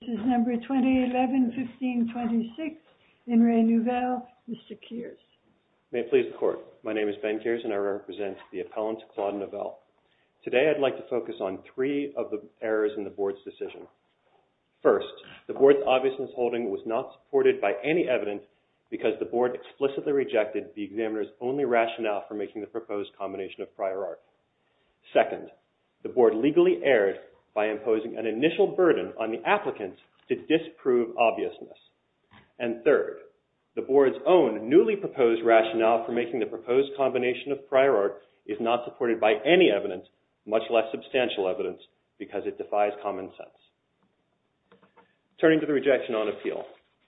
This is number 2011-15-26, IN RE NOUVEL, Mr. Kears. May it please the Court, my name is Ben Kears and I represent the appellant, Claude Nouvelle. Today I'd like to focus on three of the errors in the Board's decision. First, the Board's obviousness holding was not supported by any evidence because the Board explicitly rejected the examiner's only rationale for making the proposed combination of prior art. Second, the Board legally erred by imposing an initial burden on the applicant to disprove obviousness. And third, the Board's own newly proposed rationale for making the proposed combination of prior art is not supported by any evidence, much less substantial evidence, because it defies common sense. Turning to the rejection on appeal,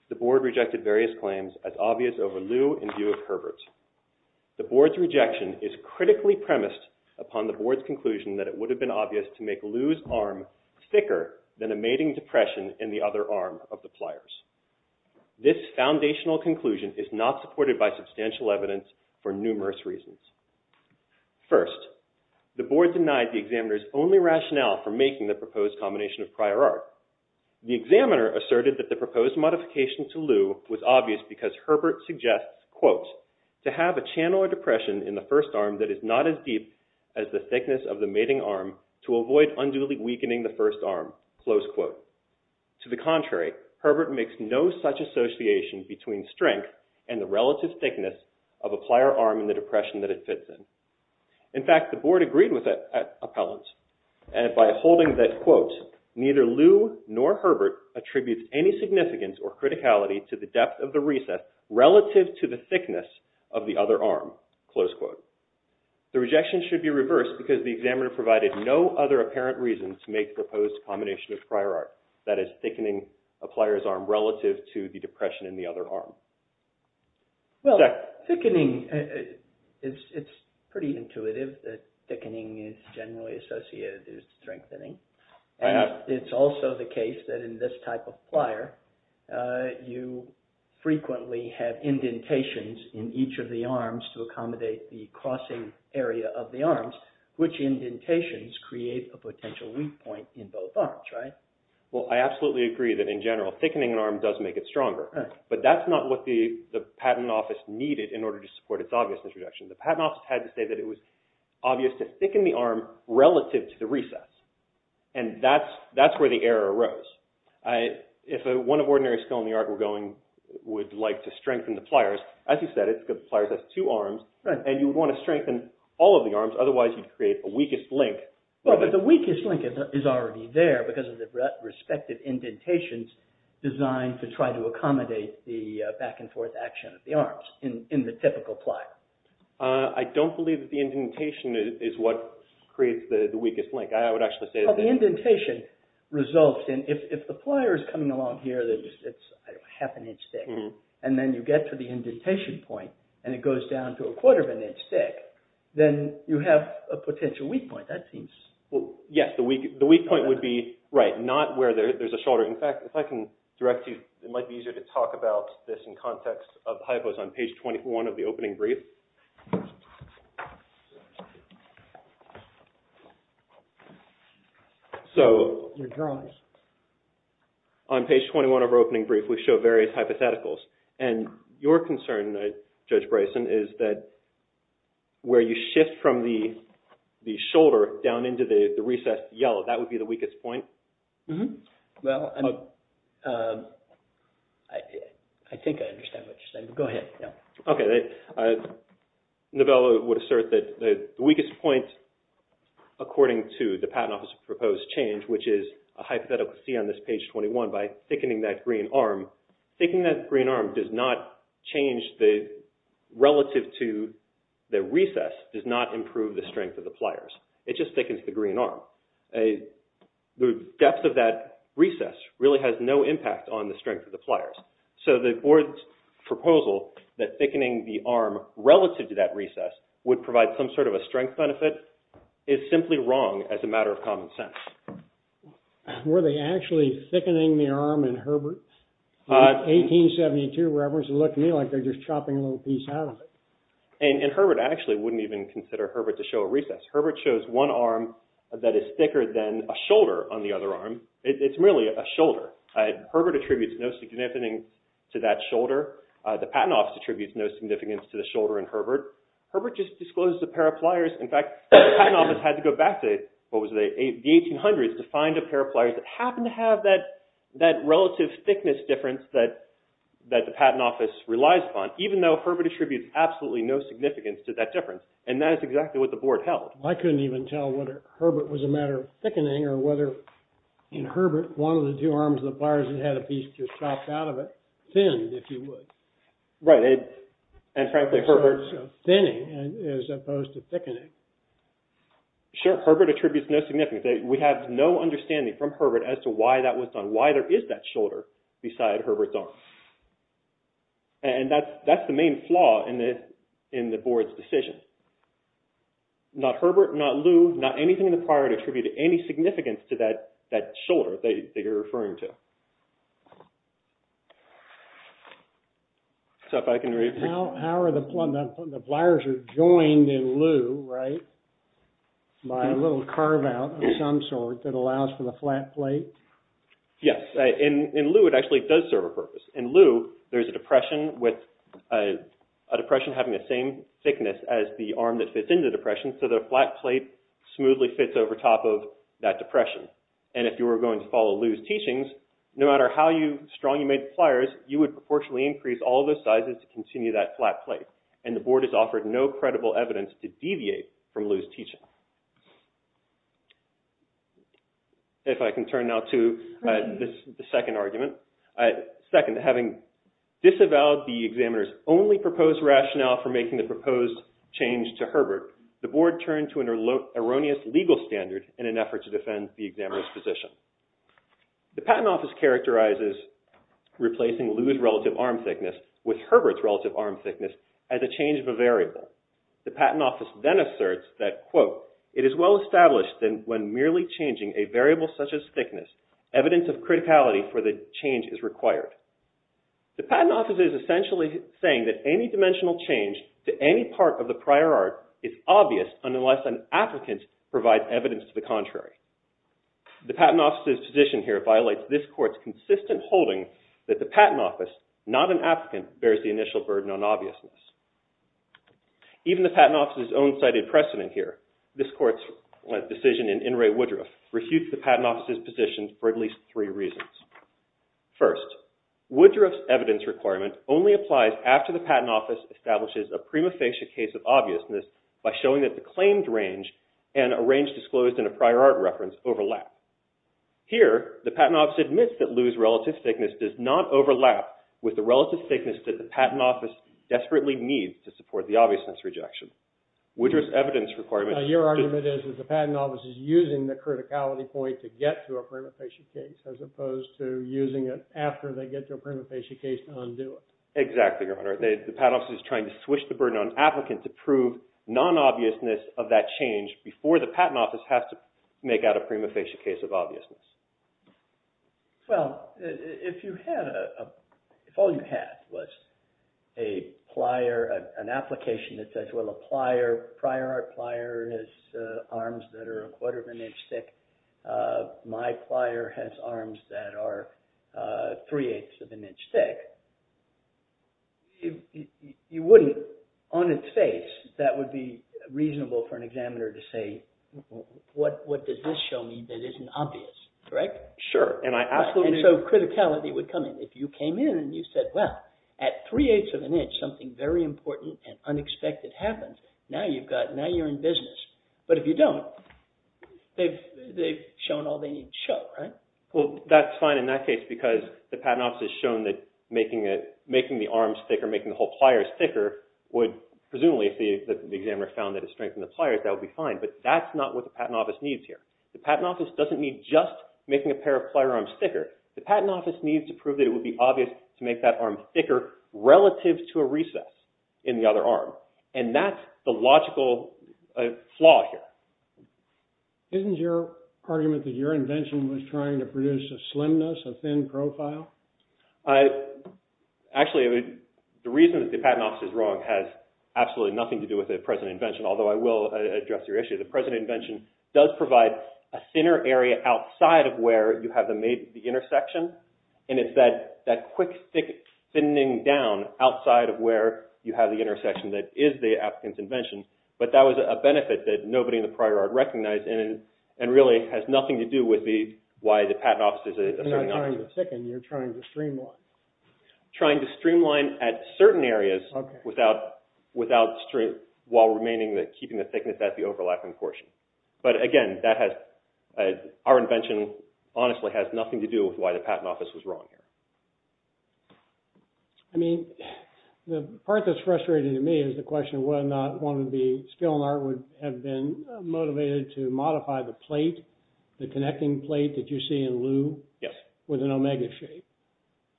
the Board rejected various claims as obvious over lieu in view of Herbert. The Board's rejection is critically premised upon the Board's conclusion that it would have been obvious to make Lou's arm thicker than a mating depression in the other arm of the pliers. This foundational conclusion is not supported by substantial evidence for numerous reasons. First, the Board denied the examiner's only rationale for making the proposed combination of prior art. The examiner asserted that the proposed modification to Lou was obvious because Herbert suggests, quote, to have a channel or depression in the first arm that is not as deep as the thickness of the mating arm to avoid unduly weakening the first arm, close quote. To the contrary, Herbert makes no such association between strength and the relative thickness of a plier arm in the depression that it fits in. In fact, the Board agreed with that appellant by holding that, quote, neither Lou nor Herbert attributes any significance or criticality to the depth of the recess relative to the thickness of the other arm, close quote. The rejection should be reversed because the examiner provided no other apparent reason to make the proposed combination of prior art, that is, thickening a plier's arm relative to the depression in the other arm. Well, thickening, it's pretty intuitive that thickening is generally associated with strengthening. It's also the case that in this type of plier, you frequently have indentations in each of the arms to accommodate the crossing area of the arms, which indentations create a potential weak point in both arms, right? Well, I absolutely agree that in general, thickening an arm does make it stronger, but that's not what the Patent Office needed in order to support its obviousness rejection. The Patent Office had to say that it was obvious to thicken the arm relative to the recess, and that's where the error arose. If one of ordinary skill in the art were going, would like to strengthen the pliers, as you said, the pliers have two arms, and you would want to strengthen all of the arms, otherwise you'd create a weakest link. Well, but the weakest link is already there because of the respective indentations designed to try to accommodate the back and forth action of the arms in the typical plier. I don't believe that the indentation is what creates the weakest link. The indentation results in, if the plier is coming along here that's half an inch thick, and then you get to the indentation point, and it goes down to a quarter of an inch thick, then you have a potential weak point. Yes, the weak point would be, right, not where there's a shoulder. In fact, if I can direct you, it might be easier to talk about this in context of hypos on page 21 of the opening brief. So on page 21 of our opening brief, we show various hypotheticals, and your concern, Judge Bryson, is that where you shift from the shoulder down into the recessed yellow, that would be the weakest point? Well, I think I understand what you're saying, but go ahead. Okay. Novella would assert that the weakest point, according to the Patent Office's proposed change, which is a hypothetical C on this page 21, by thickening that green arm, thickening that green arm does not change the relative to the recess, does not improve the strength of the pliers. It just thickens the green arm. The depth of that recess really has no impact on the strength of the pliers. So the board's proposal that thickening the arm relative to that recess would provide some sort of a strength benefit is simply wrong as a matter of common sense. Were they actually thickening the arm in Herbert? In 1872, it looked to me like they were just chopping a little piece out of it. And Herbert actually wouldn't even consider Herbert to show a recess. Herbert shows one arm that is thicker than a shoulder on the other arm. It's merely a shoulder. Herbert attributes no significance to that shoulder. The Patent Office attributes no significance to the shoulder in Herbert. Herbert just discloses a pair of pliers. In fact, the Patent Office had to go back to the 1800s to find a pair of pliers that happened to have that relative thickness difference that the Patent Office relies upon, even though Herbert attributes absolutely no significance to that difference. And that is exactly what the board held. I couldn't even tell whether Herbert was a matter of thickening or whether in Herbert, one of the two arms of the pliers that had a piece just chopped out of it thinned, if you would. Right. And frankly, Herbert... Thinning as opposed to thickening. Sure. Herbert attributes no significance. We have no understanding from Herbert as to why that was done, why there is that shoulder beside Herbert's arm. And that's the main flaw in the board's decision. Not Herbert, not Lou, not anything in the prior to attribute any significance to that shoulder that you're referring to. So if I can read... How are the pliers joined in Lou, right, by a little carve-out of some sort that allows for the flat plate? Yes. In Lou, it actually does serve a purpose. In Lou, there's a depression with a depression having the same thickness as the arm that fits into the depression, so the flat plate smoothly fits over top of that depression. And if you were going to follow Lou's teachings, no matter how strong you made the pliers, you would proportionally increase all the sizes to continue that flat plate. And the board has offered no credible evidence to deviate from Lou's teachings. If I can turn now to the second argument. Second, having disavowed the examiner's only proposed rationale for making the proposed change to Herbert, the board turned to an erroneous legal standard in an effort to defend the examiner's position. The Patent Office characterizes replacing Lou's relative arm thickness with Herbert's relative arm thickness as a change of a variable. The Patent Office then asserts that, The Patent Office is essentially saying that any dimensional change to any part of the prior art is obvious unless an applicant provides evidence to the contrary. The Patent Office's position here violates this court's consistent holding that the Patent Office, not an applicant, bears the initial burden on obviousness. Even the Patent Office's own cited precedent here, this court's decision in In re Woodruff, refutes the Patent Office's position for at least three reasons. First, Woodruff's evidence requirement only applies after the Patent Office establishes a prima facie case of obviousness by showing that the claimed range and a range disclosed in a prior art reference overlap. Here, the Patent Office admits that Lou's relative thickness does not overlap with the relative thickness that the Patent Office desperately needs to support the obviousness rejection. Woodruff's evidence requirement... Your argument is that the Patent Office is using the criticality point to get to a prima facie case as opposed to using it after they get to a prima facie case to undo it. Exactly, Your Honor. The Patent Office is trying to swish the burden on applicants to prove non-obviousness of that change before the Patent Office has to make out a prima facie case of obviousness. Well, if all you had was a plier, an application that says, well, a prior art plier has arms that are a quarter of an inch thick. My plier has arms that are three-eighths of an inch thick. You wouldn't, on its face, that would be reasonable for an examiner to say, what does this show me that isn't obvious? Correct? Sure, and I absolutely... And so, criticality would come in. If you came in and you said, well, at three-eighths of an inch, something very important and unexpected happens, now you're in business. But if you don't, they've shown all they need to show, right? Well, that's fine in that case because the Patent Office has shown that making the arms thicker, making the whole pliers thicker, would, presumably, if the examiner found that it strengthened the pliers, that would be fine. But that's not what the Patent Office needs here. The Patent Office doesn't need just making a pair of plier arms thicker. The Patent Office needs to prove that it would be obvious to make that arm thicker relative to a recess in the other arm. And that's the logical flaw here. Isn't your argument that your invention was trying to produce a slimness, a thin profile? I... Actually, the reason that the Patent Office is wrong has absolutely nothing to do with the present invention, although I will address your issue. The present invention does provide a thinner area outside of where you have the intersection, and it's that quick, thick thinning down outside of where you have the intersection that is the applicant's invention. But that was a benefit that nobody in the prior art recognized and really has nothing to do with why the Patent Office is a... You're not trying to thicken, you're trying to streamline. Trying to streamline at certain areas without straight... while remaining, keeping the thickness at the overlapping portion. But again, that has... Our invention honestly has nothing to do with why the Patent Office was wrong here. I mean, the part that's frustrating to me is the question of whether or not one of the skill in art would have been motivated to modify the plate, the connecting plate that you see in Lou, with an omega shape.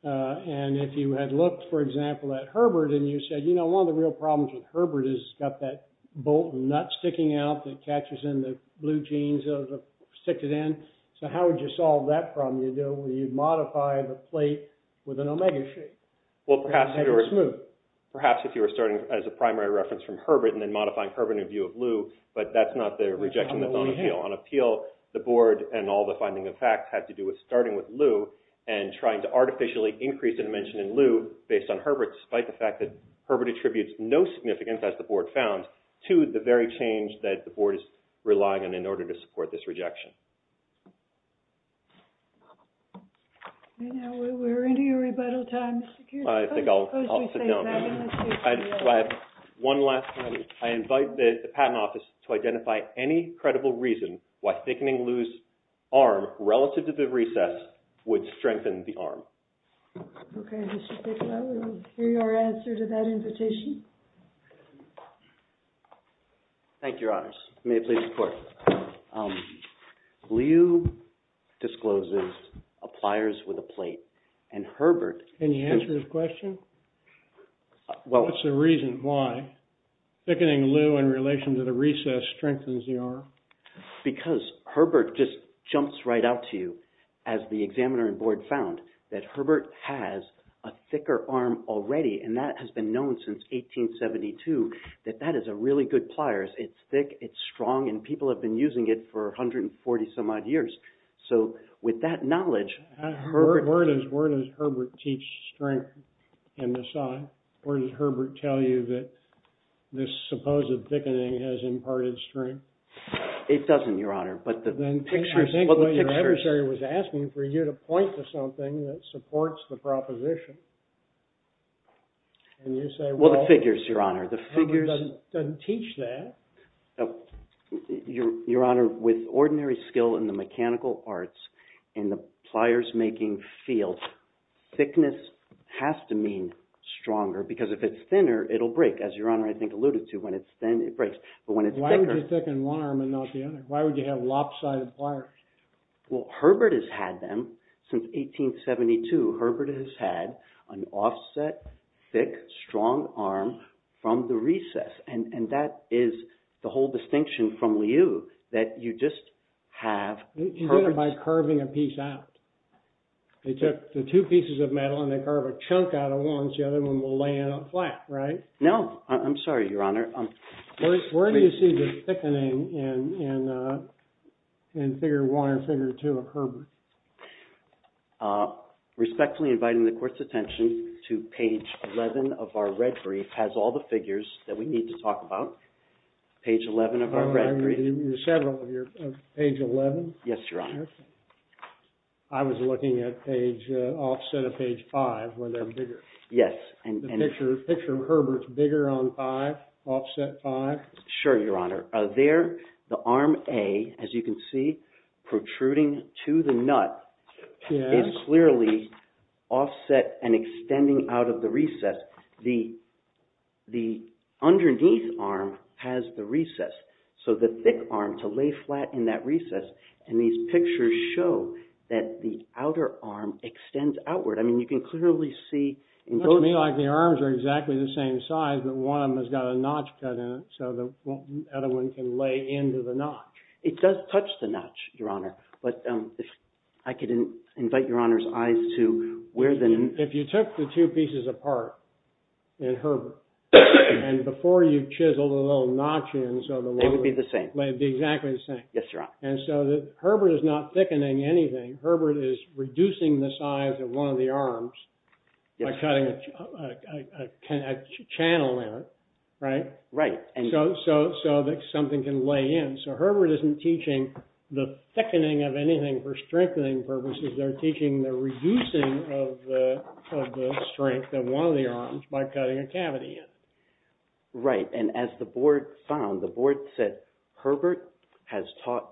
And if you had looked, for example, at Herbert and you said, you know, one of the real problems with Herbert is it's got that bolt and nut sticking out that catches in the blue jeans that stick it in. So how would you solve that problem? You'd modify the plate with an omega shape. Well, perhaps if you were... Perhaps if you were starting as a primary reference from Herbert and then modifying Herbert in view of Lou, but that's not the rejection that's on appeal. On appeal, the board and all the finding of fact had to do with starting with Lou and trying to artificially increase the dimension in Lou based on Herbert, despite the fact that Herbert attributes no significance, as the board found, to the very change that the board is relying on in order to support this rejection. And now we're into your rebuttal time, Mr. Kearns. I think I'll sit down. So I have one last... I invite the Patent Office to identify any credible reason why thickening Lou's arm relative to the recess would strengthen the arm. Okay, Mr. Bicklow, we will hear your answer to that invitation. Thank you, Your Honors. May it please the Court. Lou discloses a pliers with a plate, and Herbert... Can you answer his question? What's the reason why thickening Lou in relation to the recess strengthens the arm? Because Herbert just jumps right out to you as the examiner and board found, that Herbert has a thicker arm already, and that has been known since 1872, that that is a really good pliers. It's thick, it's strong, and people have been using it for 140-some-odd years. So with that knowledge... Where does Herbert teach strength in the sign? Or does Herbert tell you that this supposed thickening has imparted strength? It doesn't, Your Honor. Then think what your adversary was asking for you to point to something that supports the proposition. Well, the figures, Your Honor. Herbert doesn't teach that. Your Honor, with ordinary skill in the mechanical arts, in the pliers-making field, thickness has to mean stronger, because if it's thinner, it'll break, as Your Honor, I think, alluded to. Why would you thicken one arm and not the other? Why would you have lopsided pliers? Well, Herbert has had them since 1872. Herbert has had an offset, thick, strong arm from the recess. And that is the whole distinction from Liu, that you just have... You did it by carving a piece out. They took the two pieces of metal and they carved a chunk out of one, so the other one will lay in up flat, right? No, I'm sorry, Your Honor. Where do you see the thickening in Figure 1 and Figure 2 of Herbert? Respectfully inviting the Court's attention to page 11 of our red brief has all the figures that we need to talk about. Page 11 of our red brief. You said page 11? Yes, Your Honor. I was looking at offset of page 5, where they're bigger. Yes. The picture of Herbert's bigger on 5, offset 5. Sure, Your Honor. There, the arm A, as you can see, protruding to the nut, is clearly offset and extending out of the recess. The underneath arm has the recess, so the thick arm to lay flat in that recess. And these pictures show that the outer arm extends outward. I mean, you can clearly see... Looks to me like the arms are exactly the same size, but one of them has got a notch cut in it so the other one can lay into the notch. It does touch the notch, Your Honor, but if I could invite Your Honor's eyes to... If you took the two pieces apart in Herbert and before you chiseled a little notch in... They would be the same. They'd be exactly the same. Yes, Your Honor. And so Herbert is not thickening anything. Herbert is reducing the size of one of the arms by cutting a channel in it, right? Right. So that something can lay in. So Herbert isn't teaching the thickening of anything for strengthening purposes. They're teaching the reducing of the strength of one of the arms by cutting a cavity in. Right, and as the board found, the board said Herbert has taught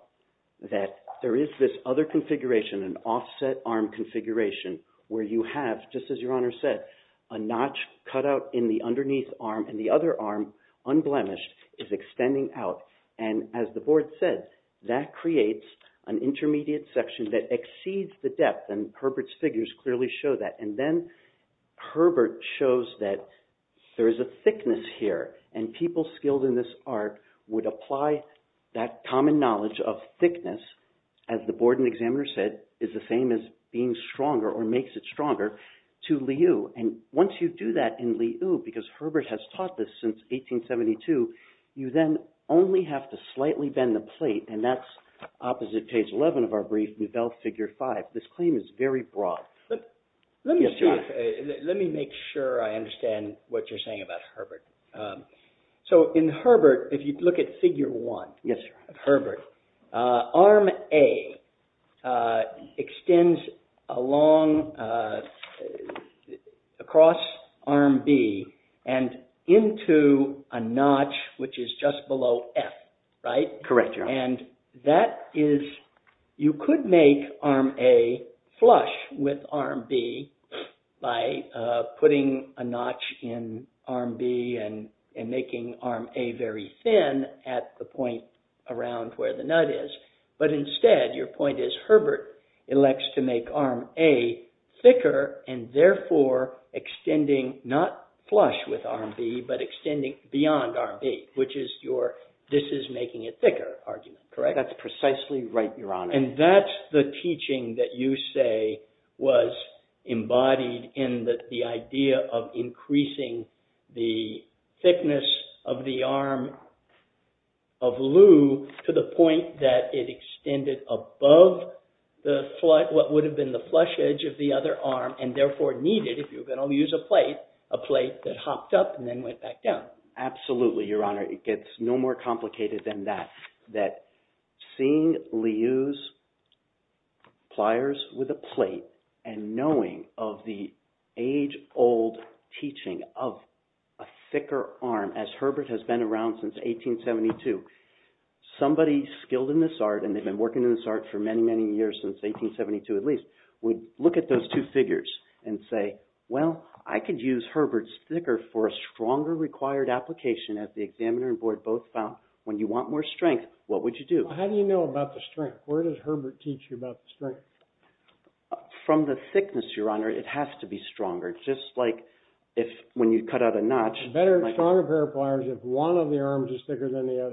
that there is this other configuration, an offset arm configuration, where you have, just as Your Honor said, a notch cut out in the underneath arm and the other arm, unblemished, is extending out and, as the board said, that creates an intermediate section that exceeds the depth and Herbert's figures clearly show that and then Herbert shows that there is a thickness here and people skilled in this art would apply that common knowledge of thickness, as the board and examiners said, is the same as being stronger or makes it stronger to Liyue and once you do that in Liyue, because Herbert has taught this since 1872, you then only have to slightly bend the plate and that's opposite page 11 of our brief, Nouvelle Figure 5. This claim is very broad. Let me make sure I understand what you're saying about Herbert. So in Herbert, if you look at Figure 1 of Herbert, arm A extends along, across arm B and into a notch which is just below F, right? Correct, Your Honor. And that is, you could make arm A flush with arm B by putting a notch in arm B and making arm A very thin at the point around where the nut is, but instead your point is Herbert elects to make arm A thicker and therefore extending, not flush with arm B, but extending beyond arm B, which is your, this is making it thicker argument, correct? That's precisely right, Your Honor. And that's the teaching that you say was embodied in the idea of increasing the thickness of the arm of Liu to the point that it extended above what would have been the flush edge of the other arm and therefore needed, if you're going to use a plate, a plate that hopped up and then went back down. Absolutely, Your Honor. It gets no more complicated than that, seeing Liu's pliers with a plate and knowing of the age-old teaching of a thicker arm, as Herbert has been around since 1872, somebody skilled in this art, and they've been working in this art for many, many years, since 1872 at least, would look at those two figures and say, well, I could use Herbert's thicker for a stronger required application as the examiner and board both found when you want more strength, what would you do? How do you know about the strength? Where does Herbert teach you about the strength? From the thickness, Your Honor. It has to be stronger, just like when you cut out a notch. A stronger pair of pliers if one of the arms is thicker than the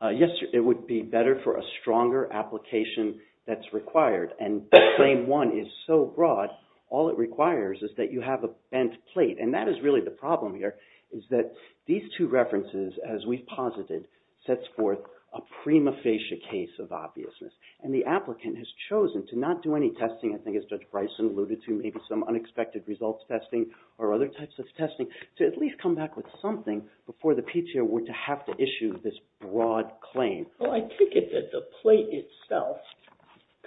other? Yes, it would be better for a stronger application that's required. And claim one is so broad, all it requires is that you have a bent plate. And that is really the problem here, is that these two references, as we've posited, sets forth a prima facie case of obviousness. And the applicant has chosen to not do any testing, I think as Judge Bryson alluded to, maybe some unexpected results testing or other types of testing, to at least come back with something before the PTO were to have to issue this broad claim. Well, I take it that the plate itself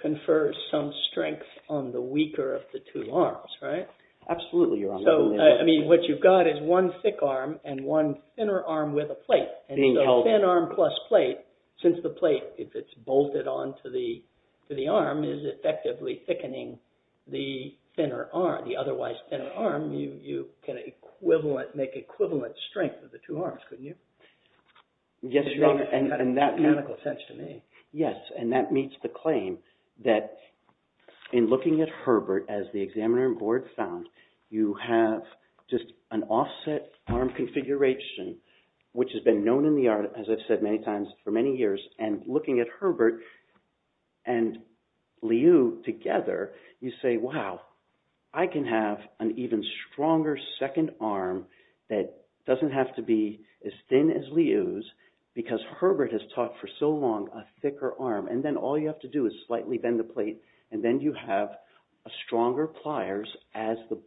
confers some strength on the weaker of the two arms, right? Absolutely, Your Honor. So, I mean, what you've got is one thick arm and one thinner arm with a plate. And so thin arm plus plate, since the plate, if it's bolted on to the arm, is effectively thickening the thinner arm, the otherwise thinner arm, you can make equivalent strength of the two arms, couldn't you? Yes, Your Honor. That's got mechanical sense to me. Yes, and that meets the claim that in looking at Herbert, as the Examiner and Board found, you have just an offset arm configuration which has been known in the art, as I've said many times for many years, and looking at Herbert and Liu together, you say, wow, I can have an even stronger second arm that doesn't have to be as thin as Liu's because Herbert has taught for so long a thicker arm. And then all you have to do is slightly bend the plate and then you have a stronger pliers as the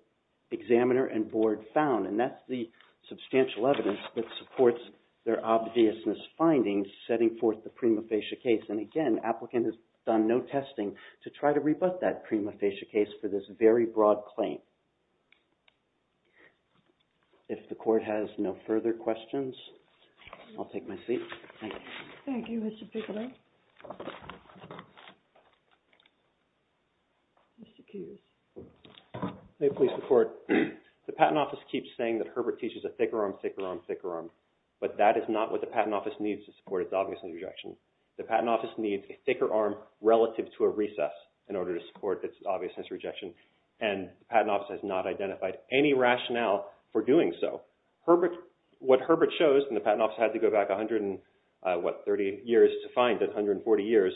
Examiner and Board found. And that's the substantial evidence that supports their obviousness findings setting forth the prima facie case. And again, the applicant has done no testing to try to rebut that prima facie case for this very broad claim. If the Court has no further questions, I'll take my seat. Thank you, Mr. Pickering. Mr. Kueh. May it please the Court. The Patent Office keeps saying that Herbert teaches a thicker arm, thicker arm, thicker arm, but that is not what the Patent Office needs to support its obviousness rejection. The Patent Office needs a thicker arm relative to a recess in order to support its obviousness rejection and the Patent Office has not identified any rationale for doing so. What Herbert shows, and the Patent Office had to go back 130 years to find it, 140 years,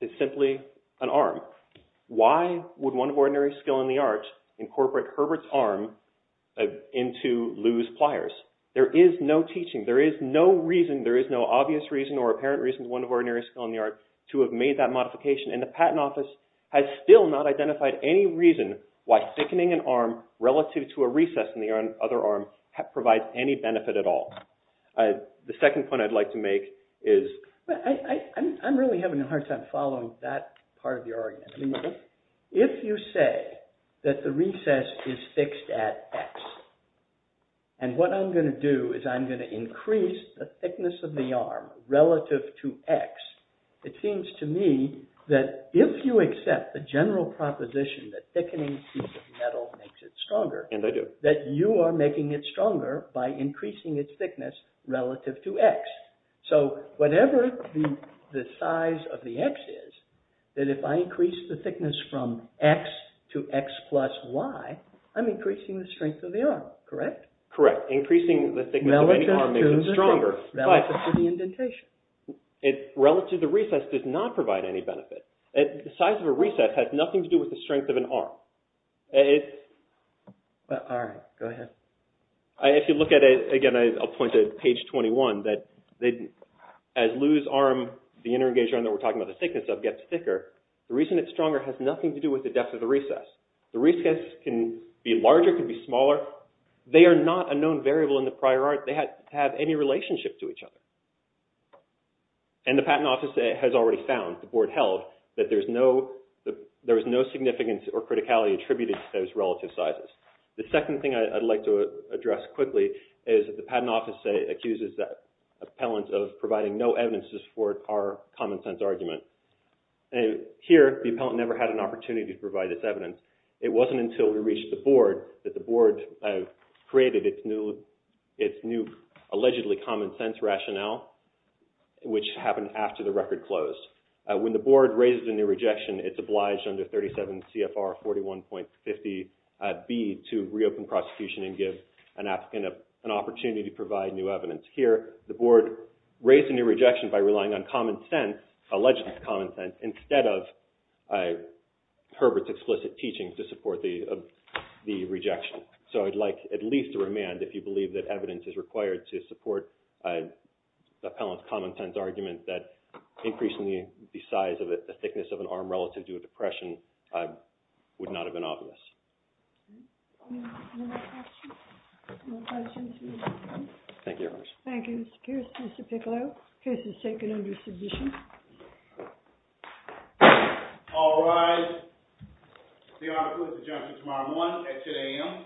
is simply an arm. Why would one ordinary skill in the art incorporate Herbert's arm into Lou's pliers? There is no teaching, there is no reason, there is no obvious reason or apparent reason for one ordinary skill in the art to have made that modification, and the Patent Office has still not identified any reason why thickening an arm relative to a recess in the other arm provides any benefit at all. The second point I'd like to make is... I'm really having a hard time following that part of your argument. If you say that the recess is fixed at X and what I'm going to do is I'm going to increase the thickness of the arm relative to X, it seems to me that if you accept the general proposition that thickening a piece of metal makes it stronger, that you are making it stronger by increasing its thickness relative to X. So whatever the size of the X is, that if I increase the thickness from X to X plus Y, I'm increasing the strength of the arm, correct? Correct. Increasing the thickness of any arm makes it stronger. Relative to the indentation. Relative to the recess does not provide any benefit. The size of a recess has nothing to do with the strength of an arm. All right, go ahead. If you look at it, again I'll point to page 21, that as Lou's arm, the inter-engaged arm that we're talking about the thickness of gets thicker, the reason it's stronger has nothing to do with the depth of the recess. The recess can be larger, can be smaller. They are not a known variable in the prior art. They have any relationship to each other. And the Patent Office has already found, the board held, that there is no significance or criticality attributed to those relative sizes. The second thing I'd like to address quickly is that the Patent Office accuses the appellant of providing no evidences for our common sense argument. Here, the appellant never had an opportunity to provide its evidence. It wasn't until we reached the board that the board created its new allegedly common sense rationale, which happened after the record closed. When the board raises a new rejection, it's obliged under 37 CFR 41.50B to reopen prosecution and give an appellant an opportunity to provide new evidence. Here, the board raised a new rejection by relying on common sense, alleged common sense, instead of Herbert's explicit teachings to support the rejection. So I'd like at least to remand if you believe that evidence is required to support the appellant's common sense argument that increasingly the size of the thickness of an arm relative to a depression would not have been obvious. Any other questions? No questions. Thank you, Your Honor. Thank you, Mr. Kirsten. Mr. Piccolo, the case is taken under submission. All rise. The article is adjuncted tomorrow morning at 10 a.m. Thank you.